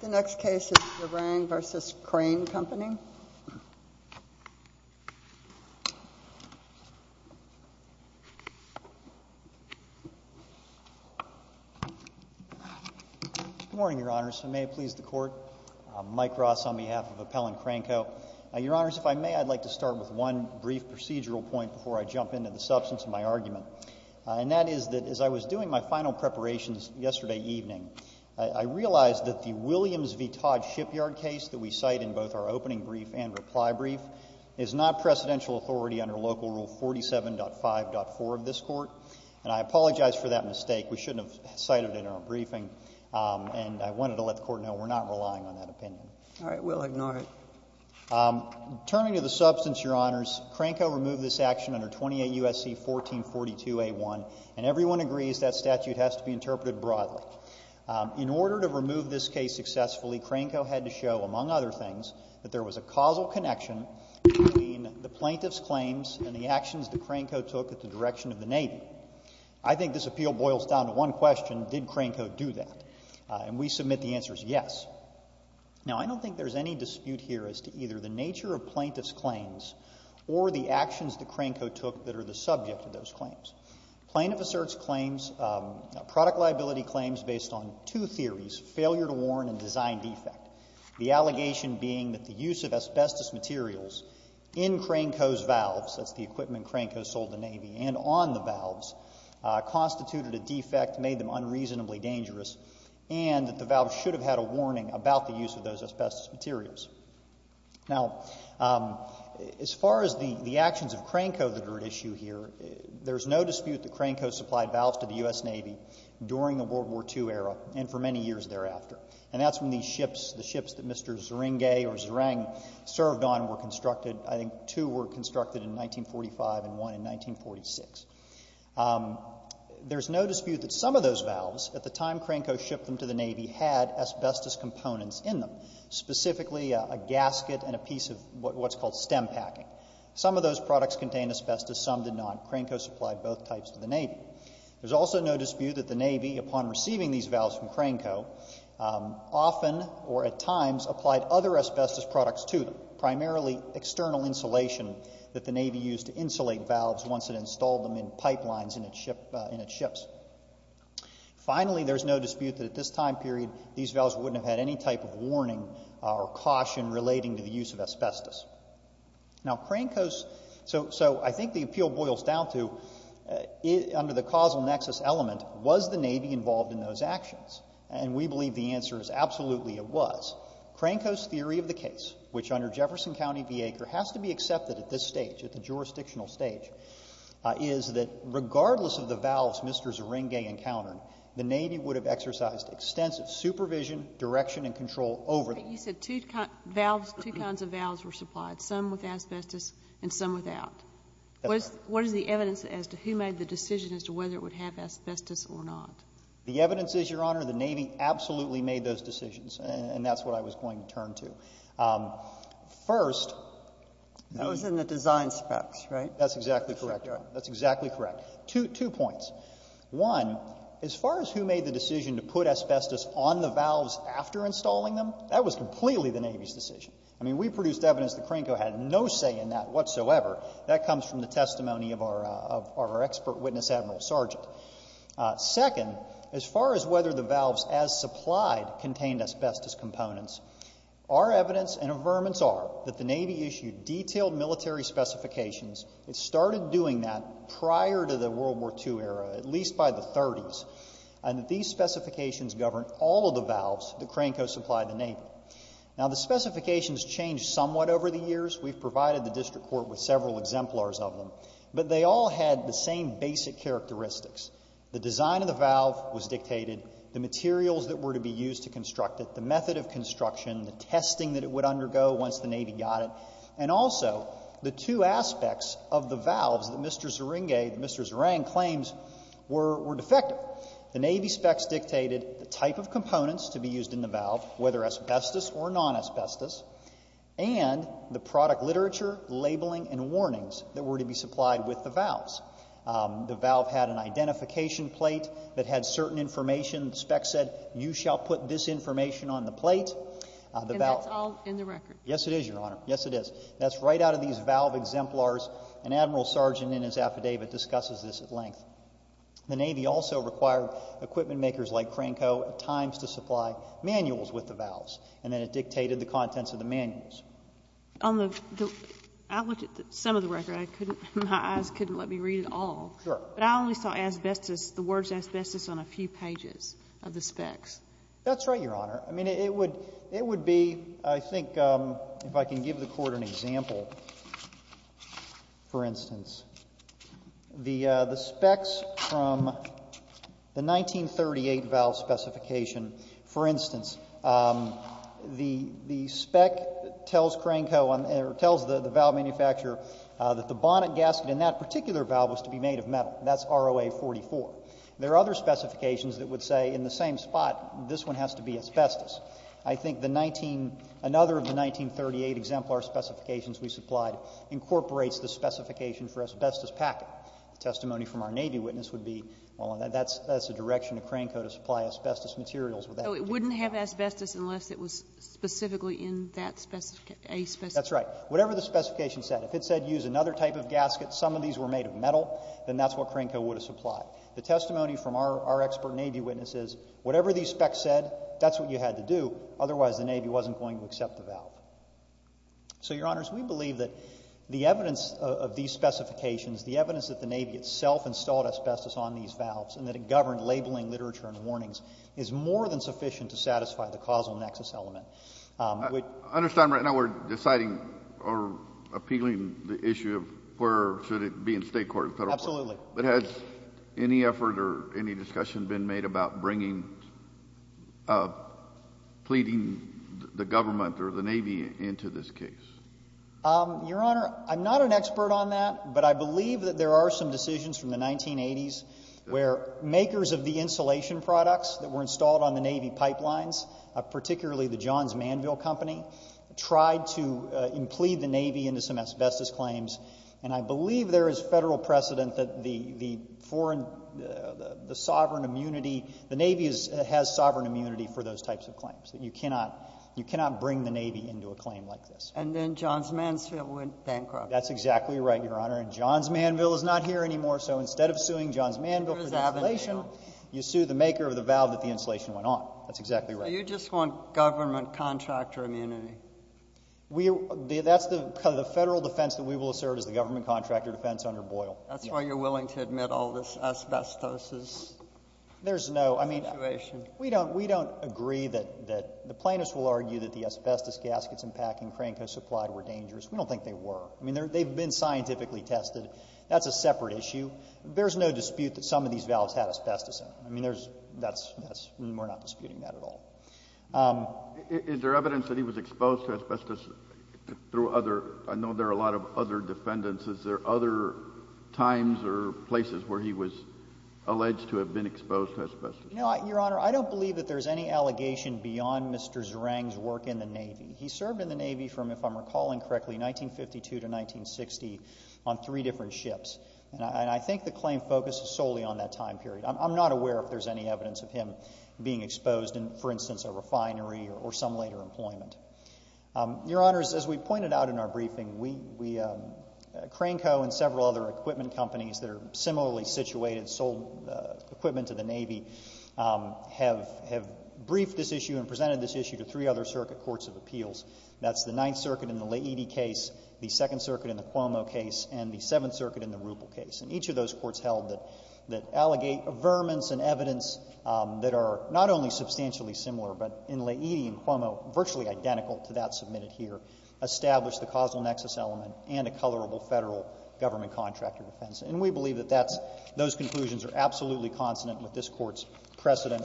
The next case is Zeringue v. Crane Company. Good morning, Your Honors. I may please the Court. I'm Mike Ross on behalf of Appellant Cranco. Your Honors, if I may, I'd like to start with one brief procedural point before I jump into the substance of my argument, and that is that as I was doing my final preparations yesterday evening, I realized that the Williams v. Todd shipyard case that we cite in both our opening brief and reply brief is not presidential authority under Local Rule 47.5.4 of this Court. And I apologize for that mistake. We shouldn't have cited it in our briefing, and I wanted to let the Court know we're not relying on that opinion. All right. We'll ignore it. Turning to the substance, Your Honors, Cranco removed this action under 28 U.S.C. 1442a.1, and everyone agrees that statute has to be interpreted broadly. In order to remove this case successfully, Cranco had to show, among other things, that there was a causal connection between the plaintiff's claims and the actions that Cranco took at the direction of the Navy. I think this appeal boils down to one question, did Cranco do that? And we submit the answer is yes. Now, I don't think there's any dispute here as to either the nature of plaintiff's claims or the actions that Cranco took that are the subject of those claims. Plaintiff asserts claims, product liability claims, based on two theories, failure to warn and design defect, the allegation being that the use of asbestos materials in Cranco's valves, that's the equipment Cranco sold the Navy, and on the valves, constituted a defect, made them unreasonably dangerous, and that the valves should have had a warning about the use of those asbestos materials. Now, as far as the actions of Cranco that are at issue here, there's no dispute that Cranco supplied valves to the U.S. Navy during the World War II era and for many years thereafter, and that's when these ships, the ships that Mr. Zeringue or Zering served on were constructed, I think two were constructed in 1945 and one in 1946. There's no dispute that some of those valves, at the time Cranco shipped them to the Navy, had asbestos components in them, specifically a gasket and a piece of what's called stem packing. Some of those products contained asbestos, some did not. Cranco supplied both types to the Navy. There's also no dispute that the Navy, upon receiving these valves from Cranco, often or at times applied other asbestos products to them, in pipelines in its ships. Finally, there's no dispute that at this time period these valves wouldn't have had any type of warning or caution relating to the use of asbestos. Now, Cranco's, so I think the appeal boils down to, under the causal nexus element, was the Navy involved in those actions? And we believe the answer is absolutely it was. Cranco's theory of the case, which under Jefferson County v. Acre has to be accepted at this stage, at the jurisdictional stage, is that regardless of the valves Mr. Zeringue encountered, the Navy would have exercised extensive supervision, direction, and control over them. But you said two valves, two kinds of valves were supplied, some with asbestos and some without. That's right. What is the evidence as to who made the decision as to whether it would have asbestos or not? The evidence is, Your Honor, the Navy absolutely made those decisions, and that's what I was going to turn to. First. That was in the design specs, right? That's exactly correct. That's exactly correct. Two points. One, as far as who made the decision to put asbestos on the valves after installing them, that was completely the Navy's decision. I mean, we produced evidence that Cranco had no say in that whatsoever. That comes from the testimony of our expert witness, Admiral Sargent. Second, as far as whether the valves as supplied contained asbestos components, our evidence and affirmance are that the Navy issued detailed military specifications. It started doing that prior to the World War II era, at least by the 30s, and that these specifications governed all of the valves that Cranco supplied the Navy. Now, the specifications changed somewhat over the years. We've provided the district court with several exemplars of them, but they all had the same basic characteristics. The design of the valve was dictated, the materials that were to be used to construct it, the method of construction, the testing that it would undergo once the Navy got it, and also the two aspects of the valves that Mr. Zerenge, that Mr. Zerang claims were defective. The Navy specs dictated the type of components to be used in the valve, whether asbestos or non-asbestos, and the product literature, labeling, and warnings that were to be supplied with the valves. The valve had an identification plate that had certain information. The specs said, you shall put this information on the plate. And that's all in the record? Yes, it is, Your Honor. Yes, it is. That's right out of these valve exemplars, and Admiral Sargent in his affidavit discusses this at length. The Navy also required equipment makers like Cranco at times to supply manuals with the valves, and then it dictated the contents of the manuals. I looked at some of the record. My eyes couldn't let me read it all. Sure. But I only saw asbestos, the words asbestos on a few pages of the specs. That's right, Your Honor. I mean, it would be, I think, if I can give the Court an example, for instance. The specs from the 1938 valve specification, for instance, the spec tells Cranco or tells the valve manufacturer that the bonnet gasket in that particular valve was to be made of metal. That's ROA-44. There are other specifications that would say in the same spot, this one has to be asbestos. I think the 19 — another of the 1938 exemplar specifications we supplied incorporates the specification for asbestos packet. The testimony from our Navy witness would be, well, that's a direction of Cranco to supply asbestos materials with that. Oh, it wouldn't have asbestos unless it was specifically in that asbestos. That's right. Whatever the specification said. If it said use another type of gasket, some of these were made of metal, then that's what Cranco would have supplied. The testimony from our expert Navy witness is, whatever these specs said, that's what you had to do, otherwise the Navy wasn't going to accept the valve. So, Your Honors, we believe that the evidence of these specifications, the evidence that the Navy itself installed asbestos on these valves and that it governed labeling, literature, and warnings is more than sufficient to satisfy the causal nexus element. I understand right now we're deciding or appealing the issue of where should it be in State court and Federal court. Absolutely. But has any effort or any discussion been made about bringing, pleading the government or the Navy into this case? Your Honor, I'm not an expert on that, but I believe that there are some decisions from the 1980s where makers of the insulation products that were installed on the Navy pipelines, particularly the Johns Manville Company, tried to plead the Navy into some asbestos claims. And I believe there is Federal precedent that the foreign, the sovereign immunity, the Navy has sovereign immunity for those types of claims. You cannot bring the Navy into a claim like this. And then Johns Mansfield went bankrupt. That's exactly right, Your Honor. And Johns Manville is not here anymore, so instead of suing Johns Manville for insulation, you sue the maker of the valve that the insulation went on. That's exactly right. You just want government contractor immunity. That's the Federal defense that we will assert is the government contractor defense under Boyle. That's why you're willing to admit all this asbestosis situation. There's no – I mean, we don't agree that the plaintiffs will argue that the asbestos gaskets and packing crank are supplied were dangerous. We don't think they were. I mean, they've been scientifically tested. That's a separate issue. There's no dispute that some of these valves had asbestos in them. I mean, there's – that's – we're not disputing that at all. Is there evidence that he was exposed to asbestos through other – I know there are a lot of other defendants. Is there other times or places where he was alleged to have been exposed to asbestos? No, Your Honor. I don't believe that there's any allegation beyond Mr. Zerang's work in the Navy. He served in the Navy from, if I'm recalling correctly, 1952 to 1960 on three different ships. And I think the claim focuses solely on that time period. I'm not aware if there's any evidence of him being exposed in, for instance, a refinery or some later employment. Your Honors, as we pointed out in our briefing, Cranko and several other equipment companies that are similarly situated, sold equipment to the Navy, have briefed this issue and presented this issue to three other circuit courts of appeals. That's the Ninth Circuit in the Laity case, the Second Circuit in the Cuomo case, and the Seventh Circuit in the Ruppel case. And each of those courts held that allegate averments and evidence that are not only substantially similar, but in Laity and Cuomo, virtually identical to that submitted here, established the causal nexus element and a colorable Federal government contractor defense. And we believe that that's — those conclusions are absolutely consonant with this Court's precedent.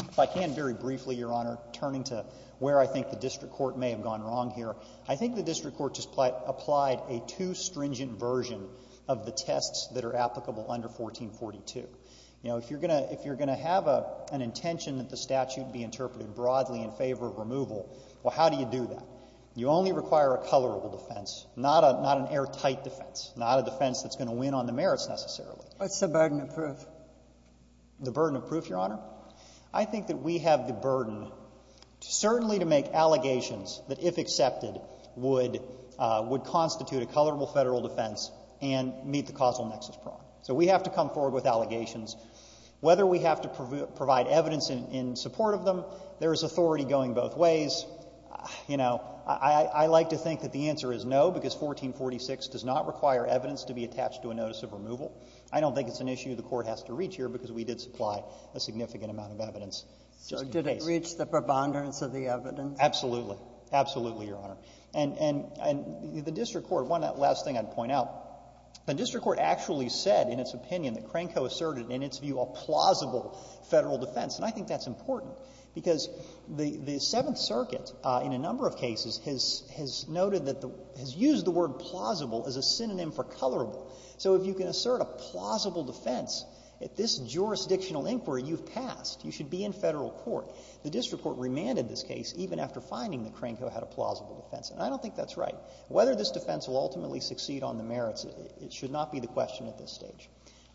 If I can, very briefly, Your Honor, turning to where I think the district court may have gone wrong here, I think the district court just applied a too stringent version of the tests that are applicable under 1442. You know, if you're going to — if you're going to have an intention that the statute be interpreted broadly in favor of removal, well, how do you do that? You only require a colorable defense, not an airtight defense, not a defense that's going to win on the merits, necessarily. Ginsburg. What's the burden of proof? Waxman. The burden of proof, Your Honor? I think that we have the burden certainly to make allegations that, if accepted, would constitute a colorable Federal defense and meet the causal nexus prong. So we have to come forward with allegations. Whether we have to provide evidence in support of them, there is authority going both ways. You know, I like to think that the answer is no, because 1446 does not require evidence to be attached to a notice of removal. I don't think it's an issue the Court has to reach here, because we did supply a significant amount of evidence. So did it reach the preponderance of the evidence? Absolutely. Absolutely, Your Honor. And the district court — one last thing I'd point out. The district court actually said in its opinion that Cranco asserted in its view a plausible Federal defense. And I think that's important, because the Seventh Circuit, in a number of cases, has noted that the — has used the word plausible as a synonym for colorable. So if you can assert a plausible defense at this jurisdictional inquiry, you've passed. You should be in Federal court. The district court remanded this case even after finding that Cranco had a plausible defense. And I don't think that's right. Whether this defense will ultimately succeed on the merits, it should not be the question at this stage.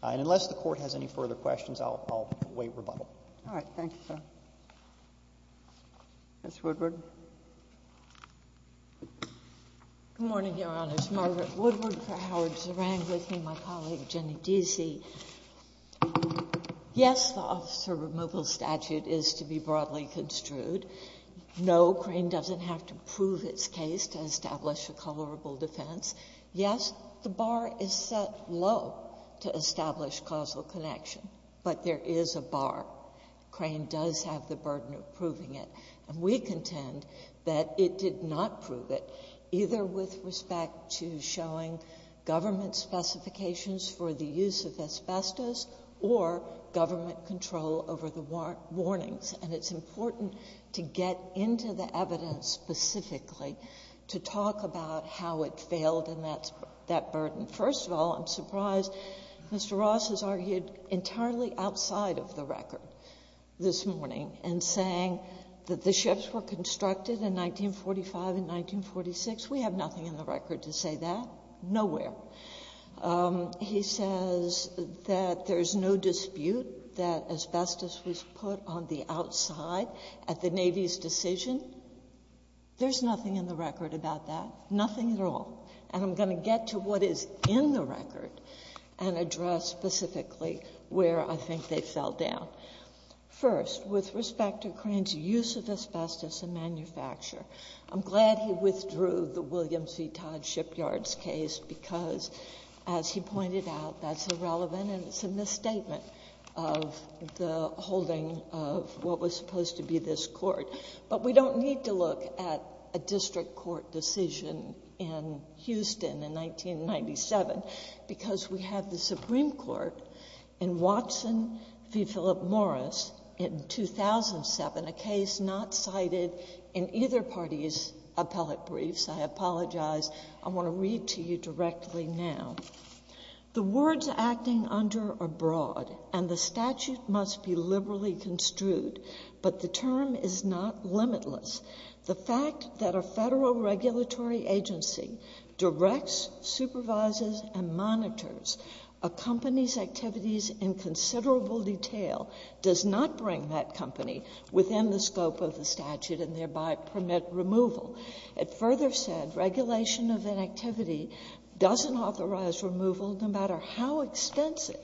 And unless the Court has any further questions, I'll wait rebuttal. All right. Thank you, sir. Ms. Woodward. Good morning, Your Honors. Margaret Woodward for Howard Zerang with me, my colleague Jenny Deasy. Yes, the officer removal statute is to be broadly construed. No, Crane doesn't have to prove its case to establish a colorable defense. Yes, the bar is set low to establish causal connection, but there is a bar. Crane does have the burden of proving it. And we contend that it did not prove it, either with respect to showing government specifications for the use of asbestos or government control over the warnings. And it's important to get into the evidence specifically to talk about how it failed in that burden. First of all, I'm surprised Mr. Ross has argued entirely outside of the record this morning in saying that the ships were constructed in 1945 and 1946. We have nothing in the record to say that. Nowhere. He says that there's no dispute that asbestos was put on the outside at the Navy's decision. There's nothing in the record about that, nothing at all. And I'm going to get to what is in the record and address specifically where I think they fell down. First, with respect to Crane's use of asbestos in manufacture, I'm glad he withdrew the asbestos. As he pointed out, that's irrelevant and it's a misstatement of the holding of what was supposed to be this Court. But we don't need to look at a district court decision in Houston in 1997, because we have the Supreme Court in Watson v. Philip Morris in 2007, a case not cited in either party's appellate briefs. I apologize. I want to read to you directly now. The words acting under are broad and the statute must be liberally construed, but the term is not limitless. The fact that a federal regulatory agency directs, supervises, and monitors a company's activities in considerable detail does not bring that company within the scope of the statute and thereby permit removal. It further said regulation of inactivity doesn't authorize removal no matter how extensive.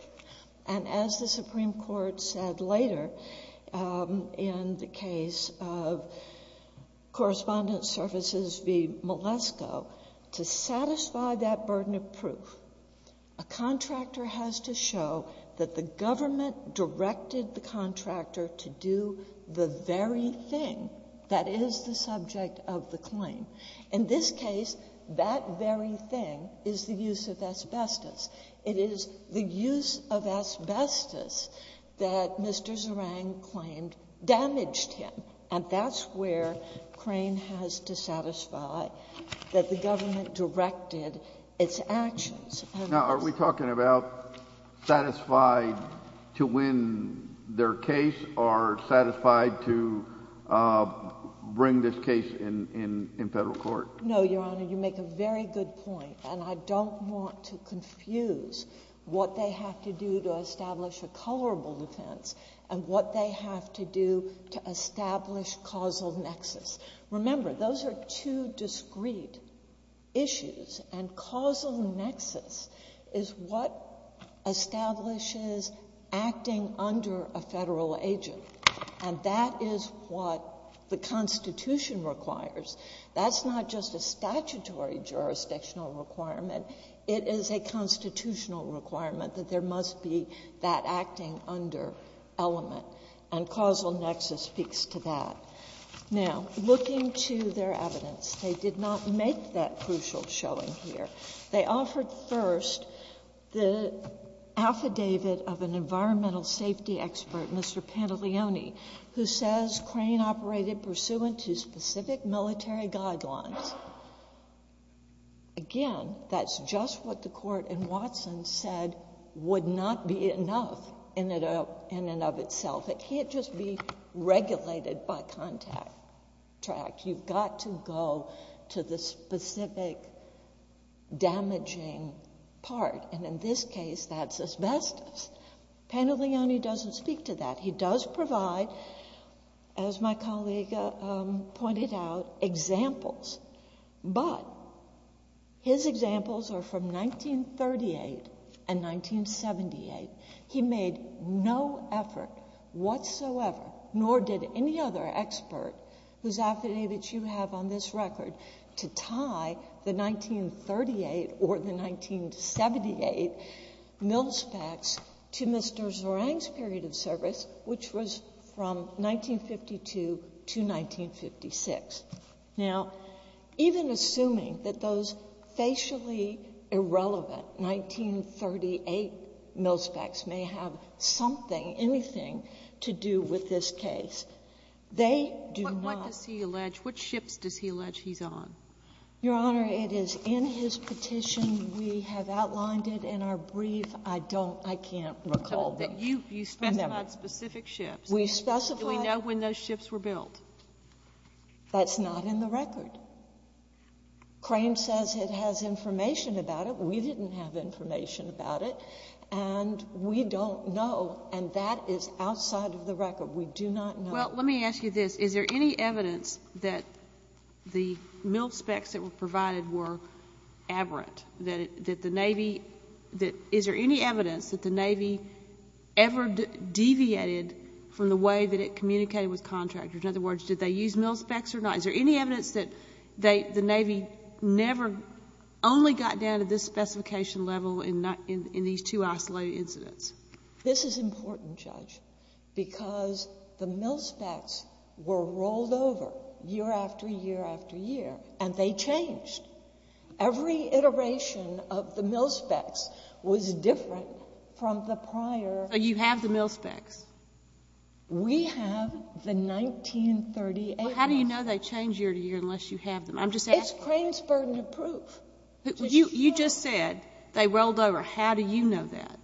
And as the Supreme Court said later in the case of Correspondence Services v. Malesko, to satisfy that burden of proof, a contractor has to show that the government directed the contractor to do the very thing that is the subject of the claim. In this case, that very thing is the use of asbestos. It is the use of asbestos that Mr. Zerang claimed damaged him. And that's where Crane has to satisfy that the government directed its actions. Now, are we talking about satisfied to win their case or satisfied to bring this case in federal court? No, Your Honor. You make a very good point. And I don't want to confuse what they have to do to establish a colorable defense and what they have to do to establish causal nexus. Remember, those are two discrete issues. And causal nexus is what establishes acting under a Federal agent. And that is what the Constitution requires. That's not just a statutory jurisdictional requirement. It is a constitutional requirement that there must be that acting under element. And causal nexus speaks to that. Now, looking to their evidence, they did not make that crucial showing here. They offered first the affidavit of an environmental safety expert, Mr. Pantolioni, who says Crane operated pursuant to specific military guidelines. Again, that's just what the Court in Watson said would not be enough in and of itself. It can't just be regulated by contract. You've got to go to the specific damaging part. And in this case, that's asbestos. Pantolioni doesn't speak to that. He does provide, as my colleague pointed out, examples. But his examples are from 1938 and 1978. He made no effort whatsoever, nor did any other expert whose affidavit you have on this record, to tie the 1938 or the 1978 milspecs to Mr. Zorang's period of service, which was from 1952 to 1956. Now, even assuming that those facially irrelevant 1938 milspecs may have something, anything to do with this case, they do not. Sotomayor, what does he allege? What ships does he allege he's on? Your Honor, it is in his petition. We have outlined it in our brief. I don't — I can't recall them. You specified specific ships. We specified — Do we know when those ships were built? That's not in the record. Crane says it has information about it. We didn't have information about it. And we don't know, and that is outside of the record. We do not know. Well, let me ask you this. Is there any evidence that the milspecs that were provided were aberrant, that the Navy — is there any evidence that the Navy ever deviated from the way that it communicated with contractors? In other words, did they use milspecs or not? Is there any evidence that the Navy never only got down to this specification level in these two isolated incidents? This is important, Judge, because the milspecs were rolled over year after year after year, and they changed. Every iteration of the milspecs was different from the prior. So you have the milspecs. We have the 1938 ones. Well, how do you know they change year to year unless you have them? I'm just asking. It's Crane's burden of proof. You just said they rolled over. How do you know that?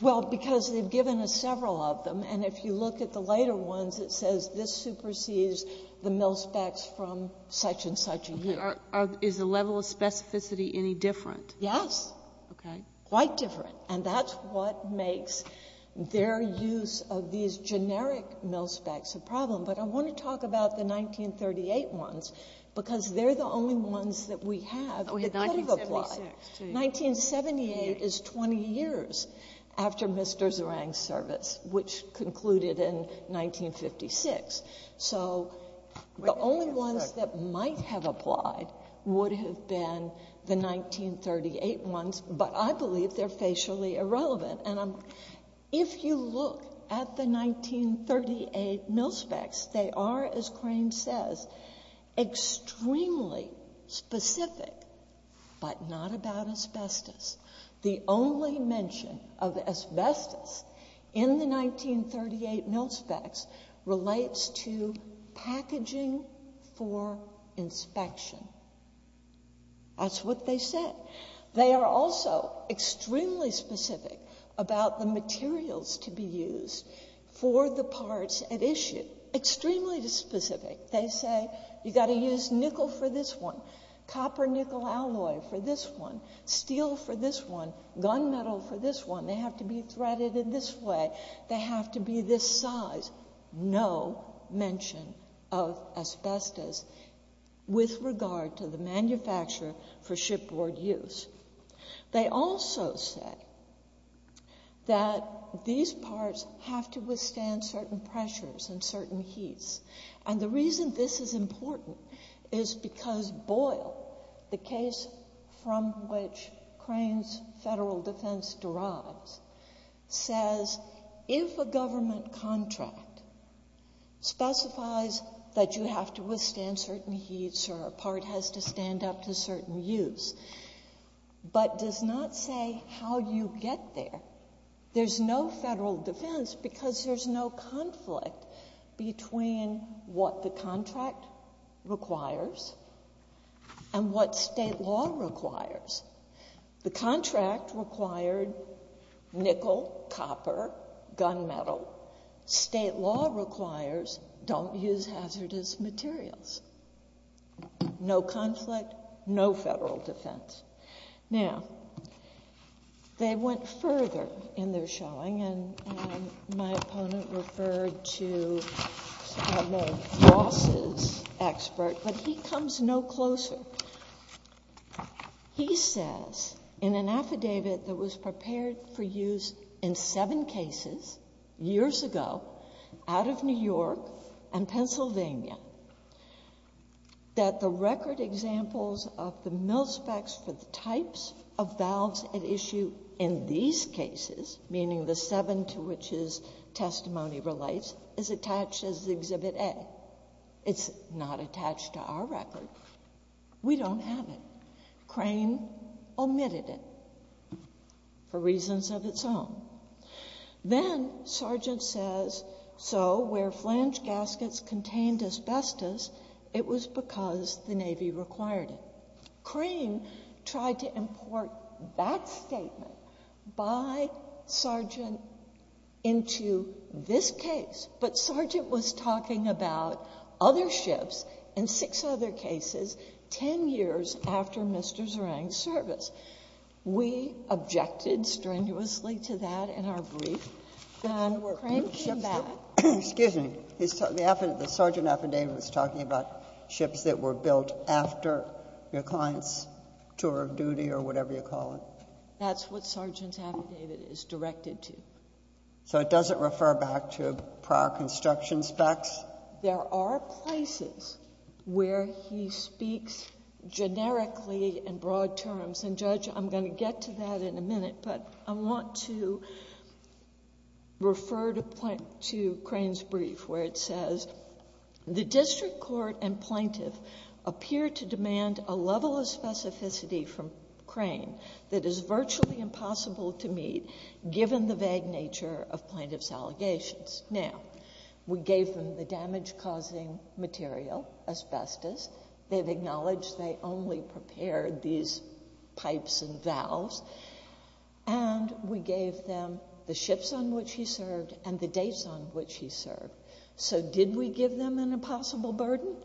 Well, because they've given us several of them. And if you look at the later ones, it says this supersedes the milspecs from such and such a year. Okay. Is the level of specificity any different? Yes. Okay. Quite different. And that's what makes their use of these generic milspecs a problem. But I want to talk about the 1938 ones, because they're the only ones that we have that could have applied. 1978 is 20 years after Mr. Zerang's service, which concluded in 1956. So the only ones that might have applied would have been the 1938 ones, but I believe they're facially irrelevant. And if you look at the 1938 milspecs, they are, as Crane says, extremely specific, but not about asbestos. The only mention of asbestos in the 1938 milspecs relates to packaging for inspection. That's what they said. They are also extremely specific about the materials to be used for the parts at issue. Extremely specific. They say, you've got to use nickel for this one, copper nickel alloy for this one, steel for this one, gun metal for this one. They have to be threaded in this way. They have to be this size. There was no mention of asbestos with regard to the manufacture for shipboard use. They also say that these parts have to withstand certain pressures and certain heats. And the reason this is important is because Boyle, the case from which Crane's federal defense derives, says if a government contract specifies that you have to withstand certain heats or a part has to stand up to certain use, but does not say how you get there, there's no federal defense because there's no conflict between what the contract requires and what state law requires. The contract required nickel, copper, gun metal. State law requires don't use hazardous materials. No conflict, no federal defense. Now, they went further in their showing, and my opponent referred to a boss's expert, but he comes no closer. He says in an affidavit that was prepared for use in seven cases, years ago, out of New York and Pennsylvania, that the record examples of the mill specs for the types of valves at issue in these cases, meaning the seven to which his testimony relates, is attached as Exhibit A. It's not attached to our record. We don't have it. Crane omitted it for reasons of its own. Then Sargent says, so where flange gaskets contained asbestos, it was because the Navy required it. Crane tried to import that statement by Sargent into this case, but Sargent was talking about other ships in six other cases 10 years after Mr. Zerang's service. We objected strenuously to that in our brief. And Crane came back. Sotomayor, excuse me. The Sargent affidavit was talking about ships that were built after your client's tour of duty or whatever you call it. That's what Sargent's affidavit is directed to. So it doesn't refer back to prior construction specs? There are places where he speaks generically in broad terms. And, Judge, I'm going to get to that in a minute, but I want to refer to Crane's brief where it says, The district court and plaintiff appear to demand a level of specificity from Crane that is virtually impossible to meet given the vague nature of plaintiff's allegations. Now, we gave them the damage-causing material, asbestos. They've acknowledged they only prepared these pipes and valves. And we gave them the ships on which he served and the dates on which he served. So did we give them an impossible burden?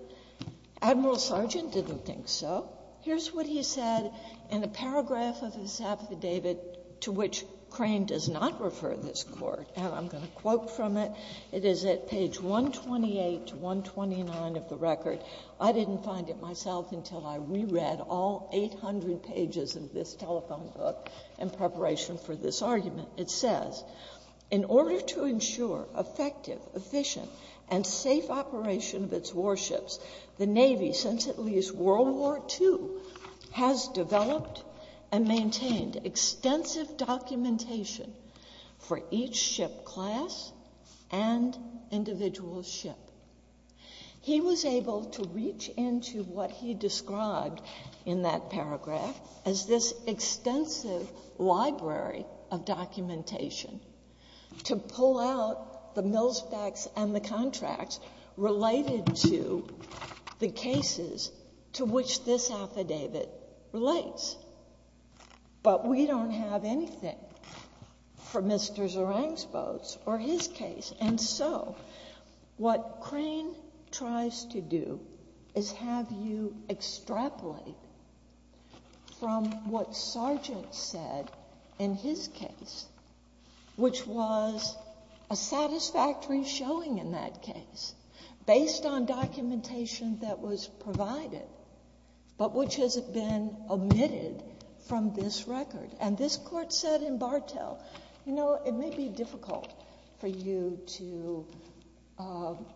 Admiral Sargent didn't think so. Here's what he said in a paragraph of his affidavit to which Crane does not refer this Court, and I'm going to quote from it. It is at page 128 to 129 of the record. I didn't find it myself until I reread all 800 pages of this telephone book in preparation for this argument. It says, In order to ensure effective, efficient, and safe operation of its warships, the Navy, since at least World War II, has developed and maintained extensive documentation for each ship class and individual ship. He was able to reach into what he described in that paragraph as this extensive library of documentation to pull out the milspecs and the contracts related to the cases to which this affidavit relates. But we don't have anything for Mr. Zerang's boats or his case. And so what Crane tries to do is have you extrapolate from what Sargent said in his case, which was a satisfactory showing in that case, based on documentation that was provided, but which has been omitted from this record. And this Court said in Bartel, you know, it may be difficult for you to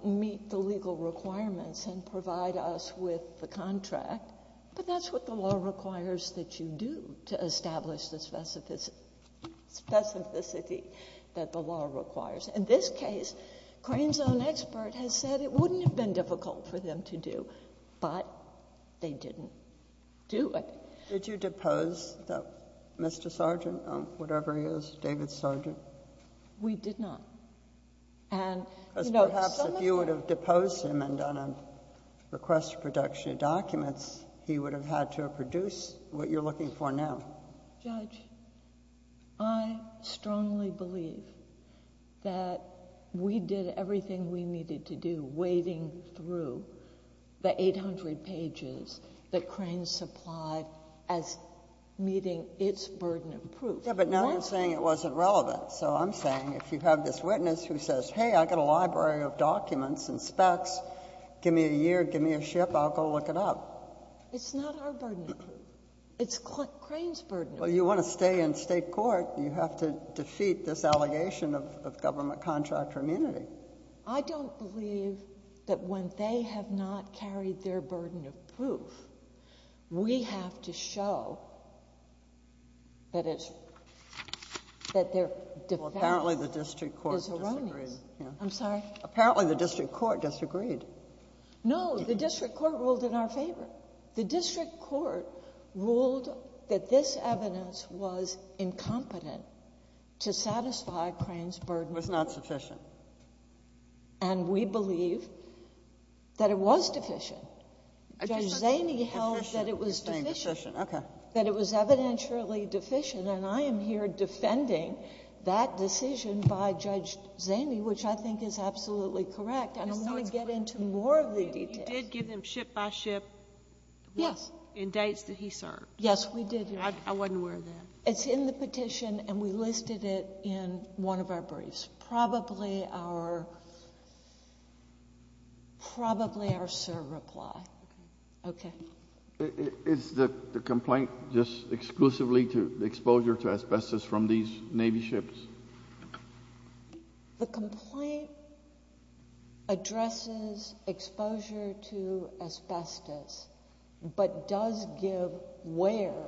meet the legal requirements and provide us with the contract, but that's what the law requires that you do, to establish the specificity that the law requires. In this case, Crane's own expert has said it wouldn't have been difficult for them to do, but they didn't do it. Did you depose Mr. Sargent, whatever he is, David Sargent? We did not. Because perhaps if you would have deposed him and done a request for production of documents, he would have had to have produced what you're looking for now. Judge, I strongly believe that we did everything we needed to do, the 800 pages that Crane supplied as meeting its burden of proof. Yeah, but now you're saying it wasn't relevant. So I'm saying if you have this witness who says, hey, I've got a library of documents and specs, give me a year, give me a ship, I'll go look it up. It's not our burden of proof. It's Crane's burden of proof. Well, you want to stay in State court. You have to defeat this allegation of government contractor immunity. I don't believe that when they have not carried their burden of proof, we have to show that their defense is erroneous. Well, apparently the district court disagreed. I'm sorry? Apparently the district court disagreed. No, the district court ruled in our favor. The district court ruled that this evidence was incompetent to satisfy Crane's burden of proof. It was not sufficient. And we believe that it was deficient. Judge Zaney held that it was deficient. You're saying deficient. Okay. That it was evidentially deficient, and I am here defending that decision by Judge Zaney, which I think is absolutely correct. I don't want to get into more of the details. You did give them ship by ship. Yes. And dates that he served. Yes, we did, Your Honor. I wasn't aware of that. It's in the petition, and we listed it in one of our briefs. Probably our serve reply. Okay. Is the complaint just exclusively to exposure to asbestos from these Navy ships? The complaint addresses exposure to asbestos, but does give where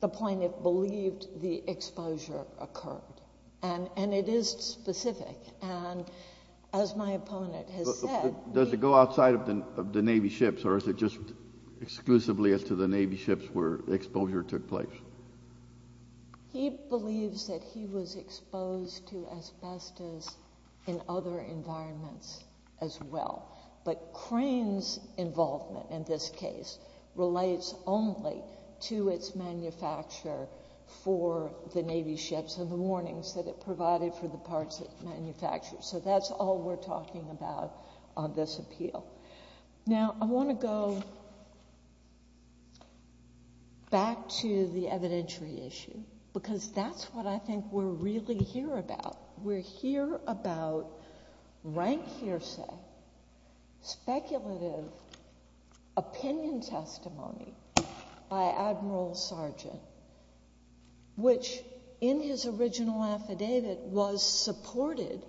the plaintiff believed the exposure occurred. And it is specific. And as my opponent has said. Does it go outside of the Navy ships, or is it just exclusively to the Navy ships where the exposure took place? He believes that he was exposed to asbestos in other environments as well. But Crane's involvement in this case relates only to its manufacture for the Navy ships and the warnings that it provided for the parts it manufactured. So that's all we're talking about on this appeal. Now, I want to go back to the evidentiary issue, because that's what I think we're really here about. We're here about rank hearsay, speculative opinion testimony by Admiral Sargent, which in his original affidavit was supported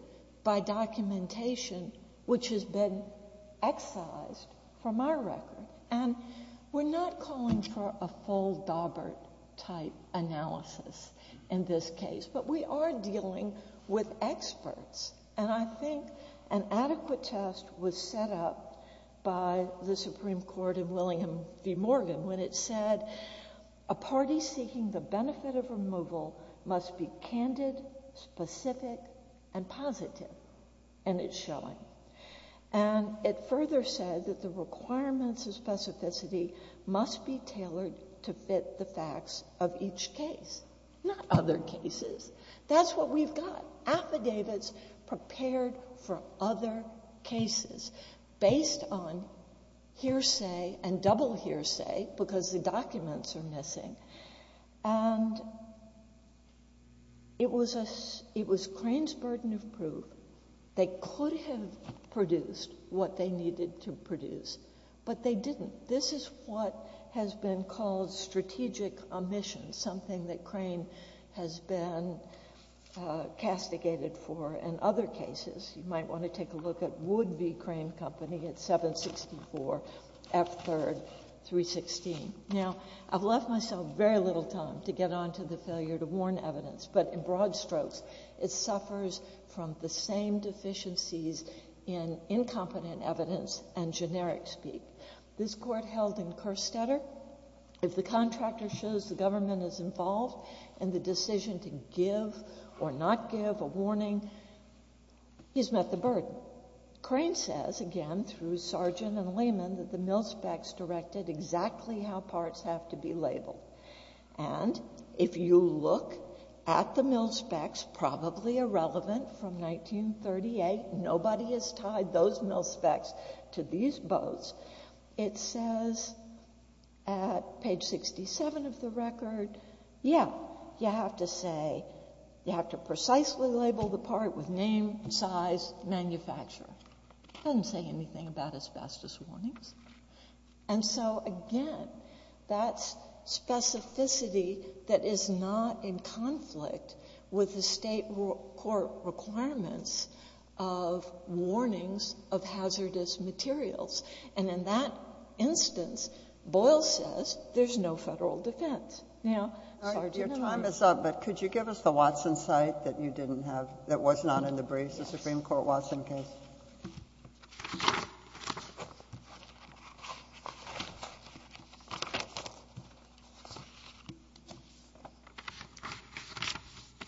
by documentation which has been excised from our record. And we're not calling for a full Daubert-type analysis in this case, but we are dealing with experts. And I think an adequate test was set up by the Supreme Court in William v. Morgan when it said a party seeking the benefit of removal must be candid, specific, and positive. And it's showing. And it further said that the requirements of specificity must be tailored to fit the facts of each case, not other cases. That's what we've got. Affidavits prepared for other cases. Based on hearsay and double hearsay, because the documents are missing. And it was Crane's burden of proof. They could have produced what they needed to produce, but they didn't. This is what has been called strategic omission, something that Crane has been castigated for in other cases. You might want to take a look at Wood v. Crane Company at 764 F. 3rd 316. Now, I've left myself very little time to get on to the failure to warn evidence. But in broad strokes, it suffers from the same deficiencies in incompetent evidence and generic speak. This Court held in Kerstetter, if the contractor shows the government is involved in the decision to give or not give a warning, he's met the burden. Crane says, again, through Sargent and Lehman, that the mil specs directed exactly how parts have to be labeled. And if you look at the mil specs, probably irrelevant from 1938, nobody has tied those mil specs to these boats. It says at page 67 of the record, yeah, you have to precisely label the part with name, size, manufacturer. It doesn't say anything about asbestos warnings. And so, again, that's specificity that is not in conflict with the state court requirements of warnings of hazardous materials. And in that instance, Boyle says there's no Federal defense. Now, Sargent and Lehman are not. Kagan.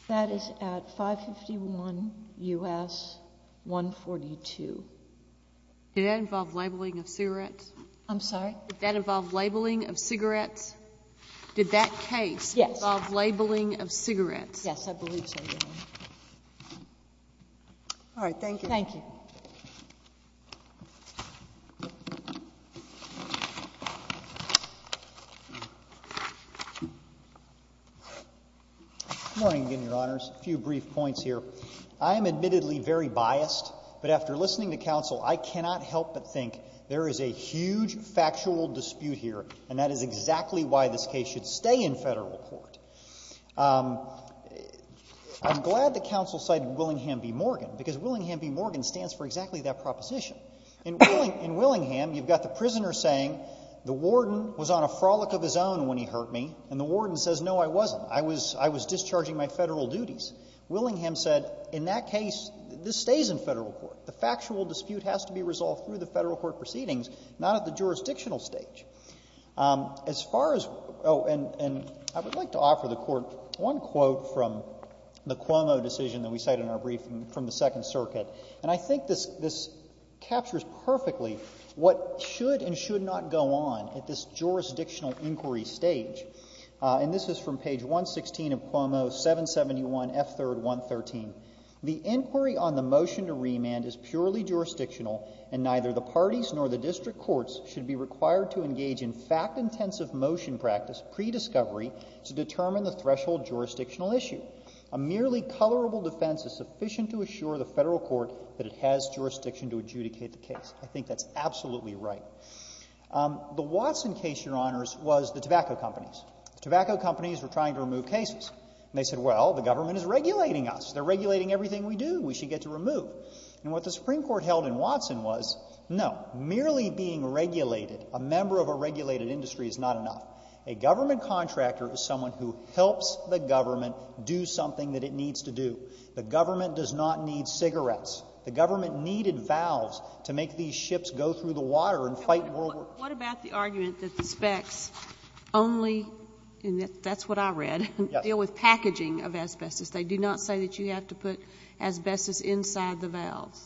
That is at 551 U.S. 142. I'm sorry? Yes. Yes, I believe so, Your Honor. All right. Thank you. Thank you. Good morning again, Your Honors. A few brief points here. I am admittedly very biased, but after listening to counsel, I cannot help but think there is a huge factual dispute here, and that is exactly why this case should stay in Federal court. I'm glad that counsel cited Willingham v. Morgan, because Willingham v. Morgan stands for exactly that proposition. In Willingham, you've got the prisoner saying the warden was on a frolic of his own when he hurt me, and the warden says, no, I wasn't. I was discharging my Federal duties. Willingham said, in that case, this stays in Federal court. The factual dispute has to be resolved through the Federal court proceedings, not at the jurisdictional stage. As far as — oh, and I would like to offer the Court one quote from the Cuomo decision that we cite in our brief from the Second Circuit. And I think this captures perfectly what should and should not go on at this jurisdictional inquiry stage. And this is from page 116 of Cuomo, 771 F. 3rd, 113. The inquiry on the motion to remand is purely jurisdictional, and neither the parties nor the district courts should be required to engage in fact-intensive motion practice pre-discovery to determine the threshold jurisdictional issue. A merely colorable defense is sufficient to assure the Federal court that it has jurisdiction to adjudicate the case. I think that's absolutely right. The Watson case, Your Honors, was the tobacco companies. The tobacco companies were trying to remove cases. And they said, well, the government is regulating us. They're regulating everything we do. We should get to remove. And what the Supreme Court held in Watson was, no, merely being regulated, a member of a regulated industry is not enough. A government contractor is someone who helps the government do something that it needs to do. The government does not need cigarettes. The government needed valves to make these ships go through the water and fight world war II. What about the argument that the specs only, and that's what I read, deal with packaging of asbestos. They do not say that you have to put asbestos inside the valves.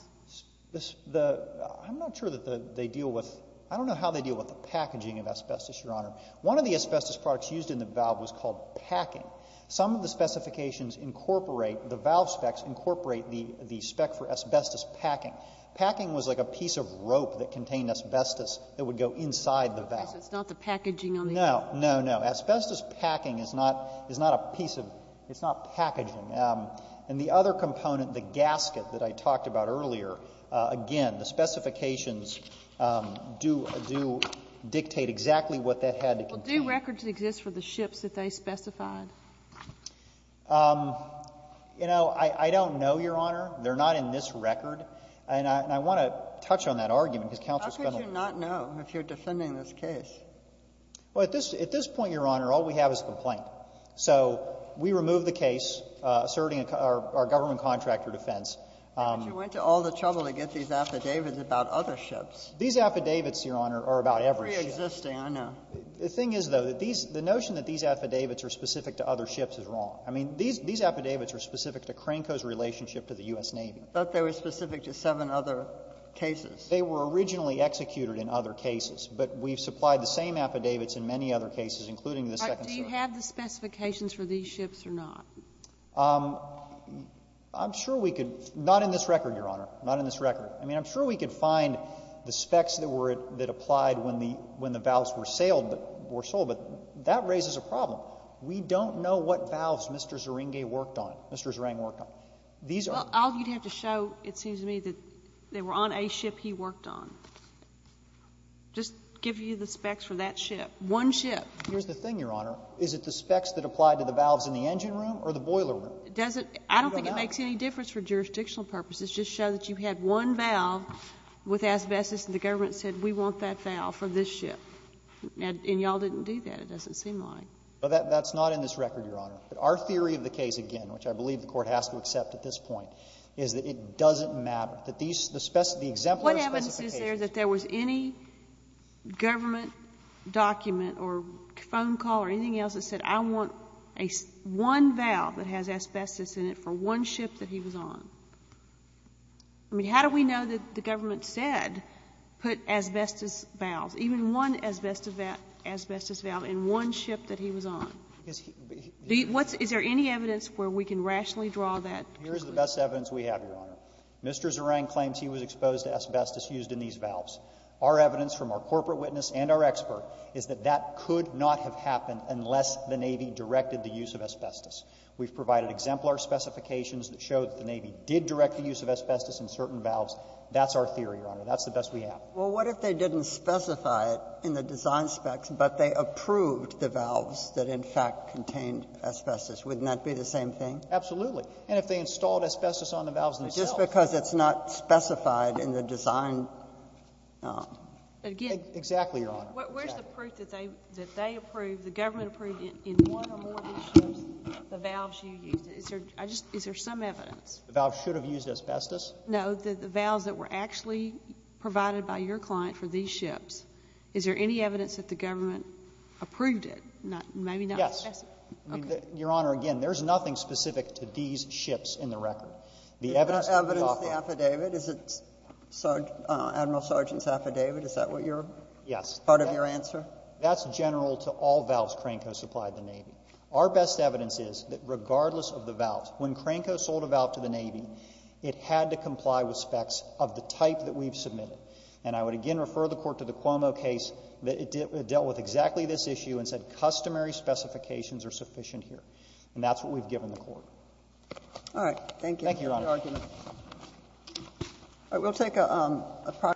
I'm not sure that they deal with, I don't know how they deal with the packaging of asbestos, Your Honor. One of the asbestos products used in the valve was called packing. Some of the specifications incorporate, the valve specs incorporate the spec for asbestos packing. Packing was like a piece of rope that contained asbestos that would go inside the valve. So it's not the packaging on the end? No, no, no. Asbestos packing is not a piece of, it's not packaging. And the other component, the gasket that I talked about earlier, again, the specifications do dictate exactly what that had to contain. Well, do records exist for the ships that they specified? You know, I don't know, Your Honor. They're not in this record. And I want to touch on that argument, because Counsel Spindler ---- How could you not know if you're defending this case? Well, at this point, Your Honor, all we have is a complaint. So we remove the case asserting our government contractor defense. But you went to all the trouble to get these affidavits about other ships. These affidavits, Your Honor, are about every ship. They're preexisting, I know. The thing is, though, the notion that these affidavits are specific to other ships is wrong. I mean, these affidavits are specific to Cranco's relationship to the U.S. Navy. But they were specific to seven other cases. They were originally executed in other cases. But we've supplied the same affidavits in many other cases, including the Second Circuit. Do you have the specifications for these ships or not? I'm sure we could. Not in this record, Your Honor. Not in this record. I mean, I'm sure we could find the specs that were, that applied when the valves were sailed, were sold. But that raises a problem. We don't know what valves Mr. Zerenge worked on, Mr. Zereng worked on. These are the ones. Well, all you'd have to show, it seems to me, that they were on a ship he worked on. Just give you the specs for that ship. One ship. Here's the thing, Your Honor. Is it the specs that apply to the valves in the engine room or the boiler room? It doesn't. I don't think it makes any difference for jurisdictional purposes. Just show that you had one valve with asbestos, and the government said, we want that valve for this ship. And y'all didn't do that, it doesn't seem like. Well, that's not in this record, Your Honor. But our theory of the case, again, which I believe the Court has to accept at this point, is that it doesn't map, that these, the exemplary specifications. What evidence is there that there was any government document or phone call or anything else that said, I want one valve that has asbestos in it for one ship that he was on? I mean, how do we know that the government said, put asbestos valves, even one asbestos valve in one ship that he was on? Is there any evidence where we can rationally draw that conclusion? Here's the best evidence we have, Your Honor. Mr. Zerang claims he was exposed to asbestos used in these valves. Our evidence from our corporate witness and our expert is that that could not have happened unless the Navy directed the use of asbestos. We've provided exemplary specifications that show that the Navy did direct the use of asbestos in certain valves. That's our theory, Your Honor. That's the best we have. Well, what if they didn't specify it in the design specs, but they approved the valves that, in fact, contained asbestos? Wouldn't that be the same thing? Absolutely. And if they installed asbestos on the valves themselves? Just because it's not specified in the design. Exactly, Your Honor. Exactly. Where's the proof that they approved, the government approved, in one or more of these ships, the valves you used? Is there some evidence? The valves should have used asbestos? No. The valves that were actually provided by your client for these ships, is there any evidence that the government approved it? Maybe not. Yes. Okay. Your Honor, again, there's nothing specific to these ships in the record. The evidence could be offered. Is that evidence in the affidavit? Is it Admiral Sargent's affidavit? Is that what you're part of your answer? Yes. That's general to all valves Cranco supplied the Navy. Our best evidence is that regardless of the valves, when Cranco sold a valve to the And I would again refer the Court to the Cuomo case that dealt with exactly this issue and said customary specifications are sufficient here. And that's what we've given the Court. All right. Thank you. Thank you, Your Honor. Thank you for your argument.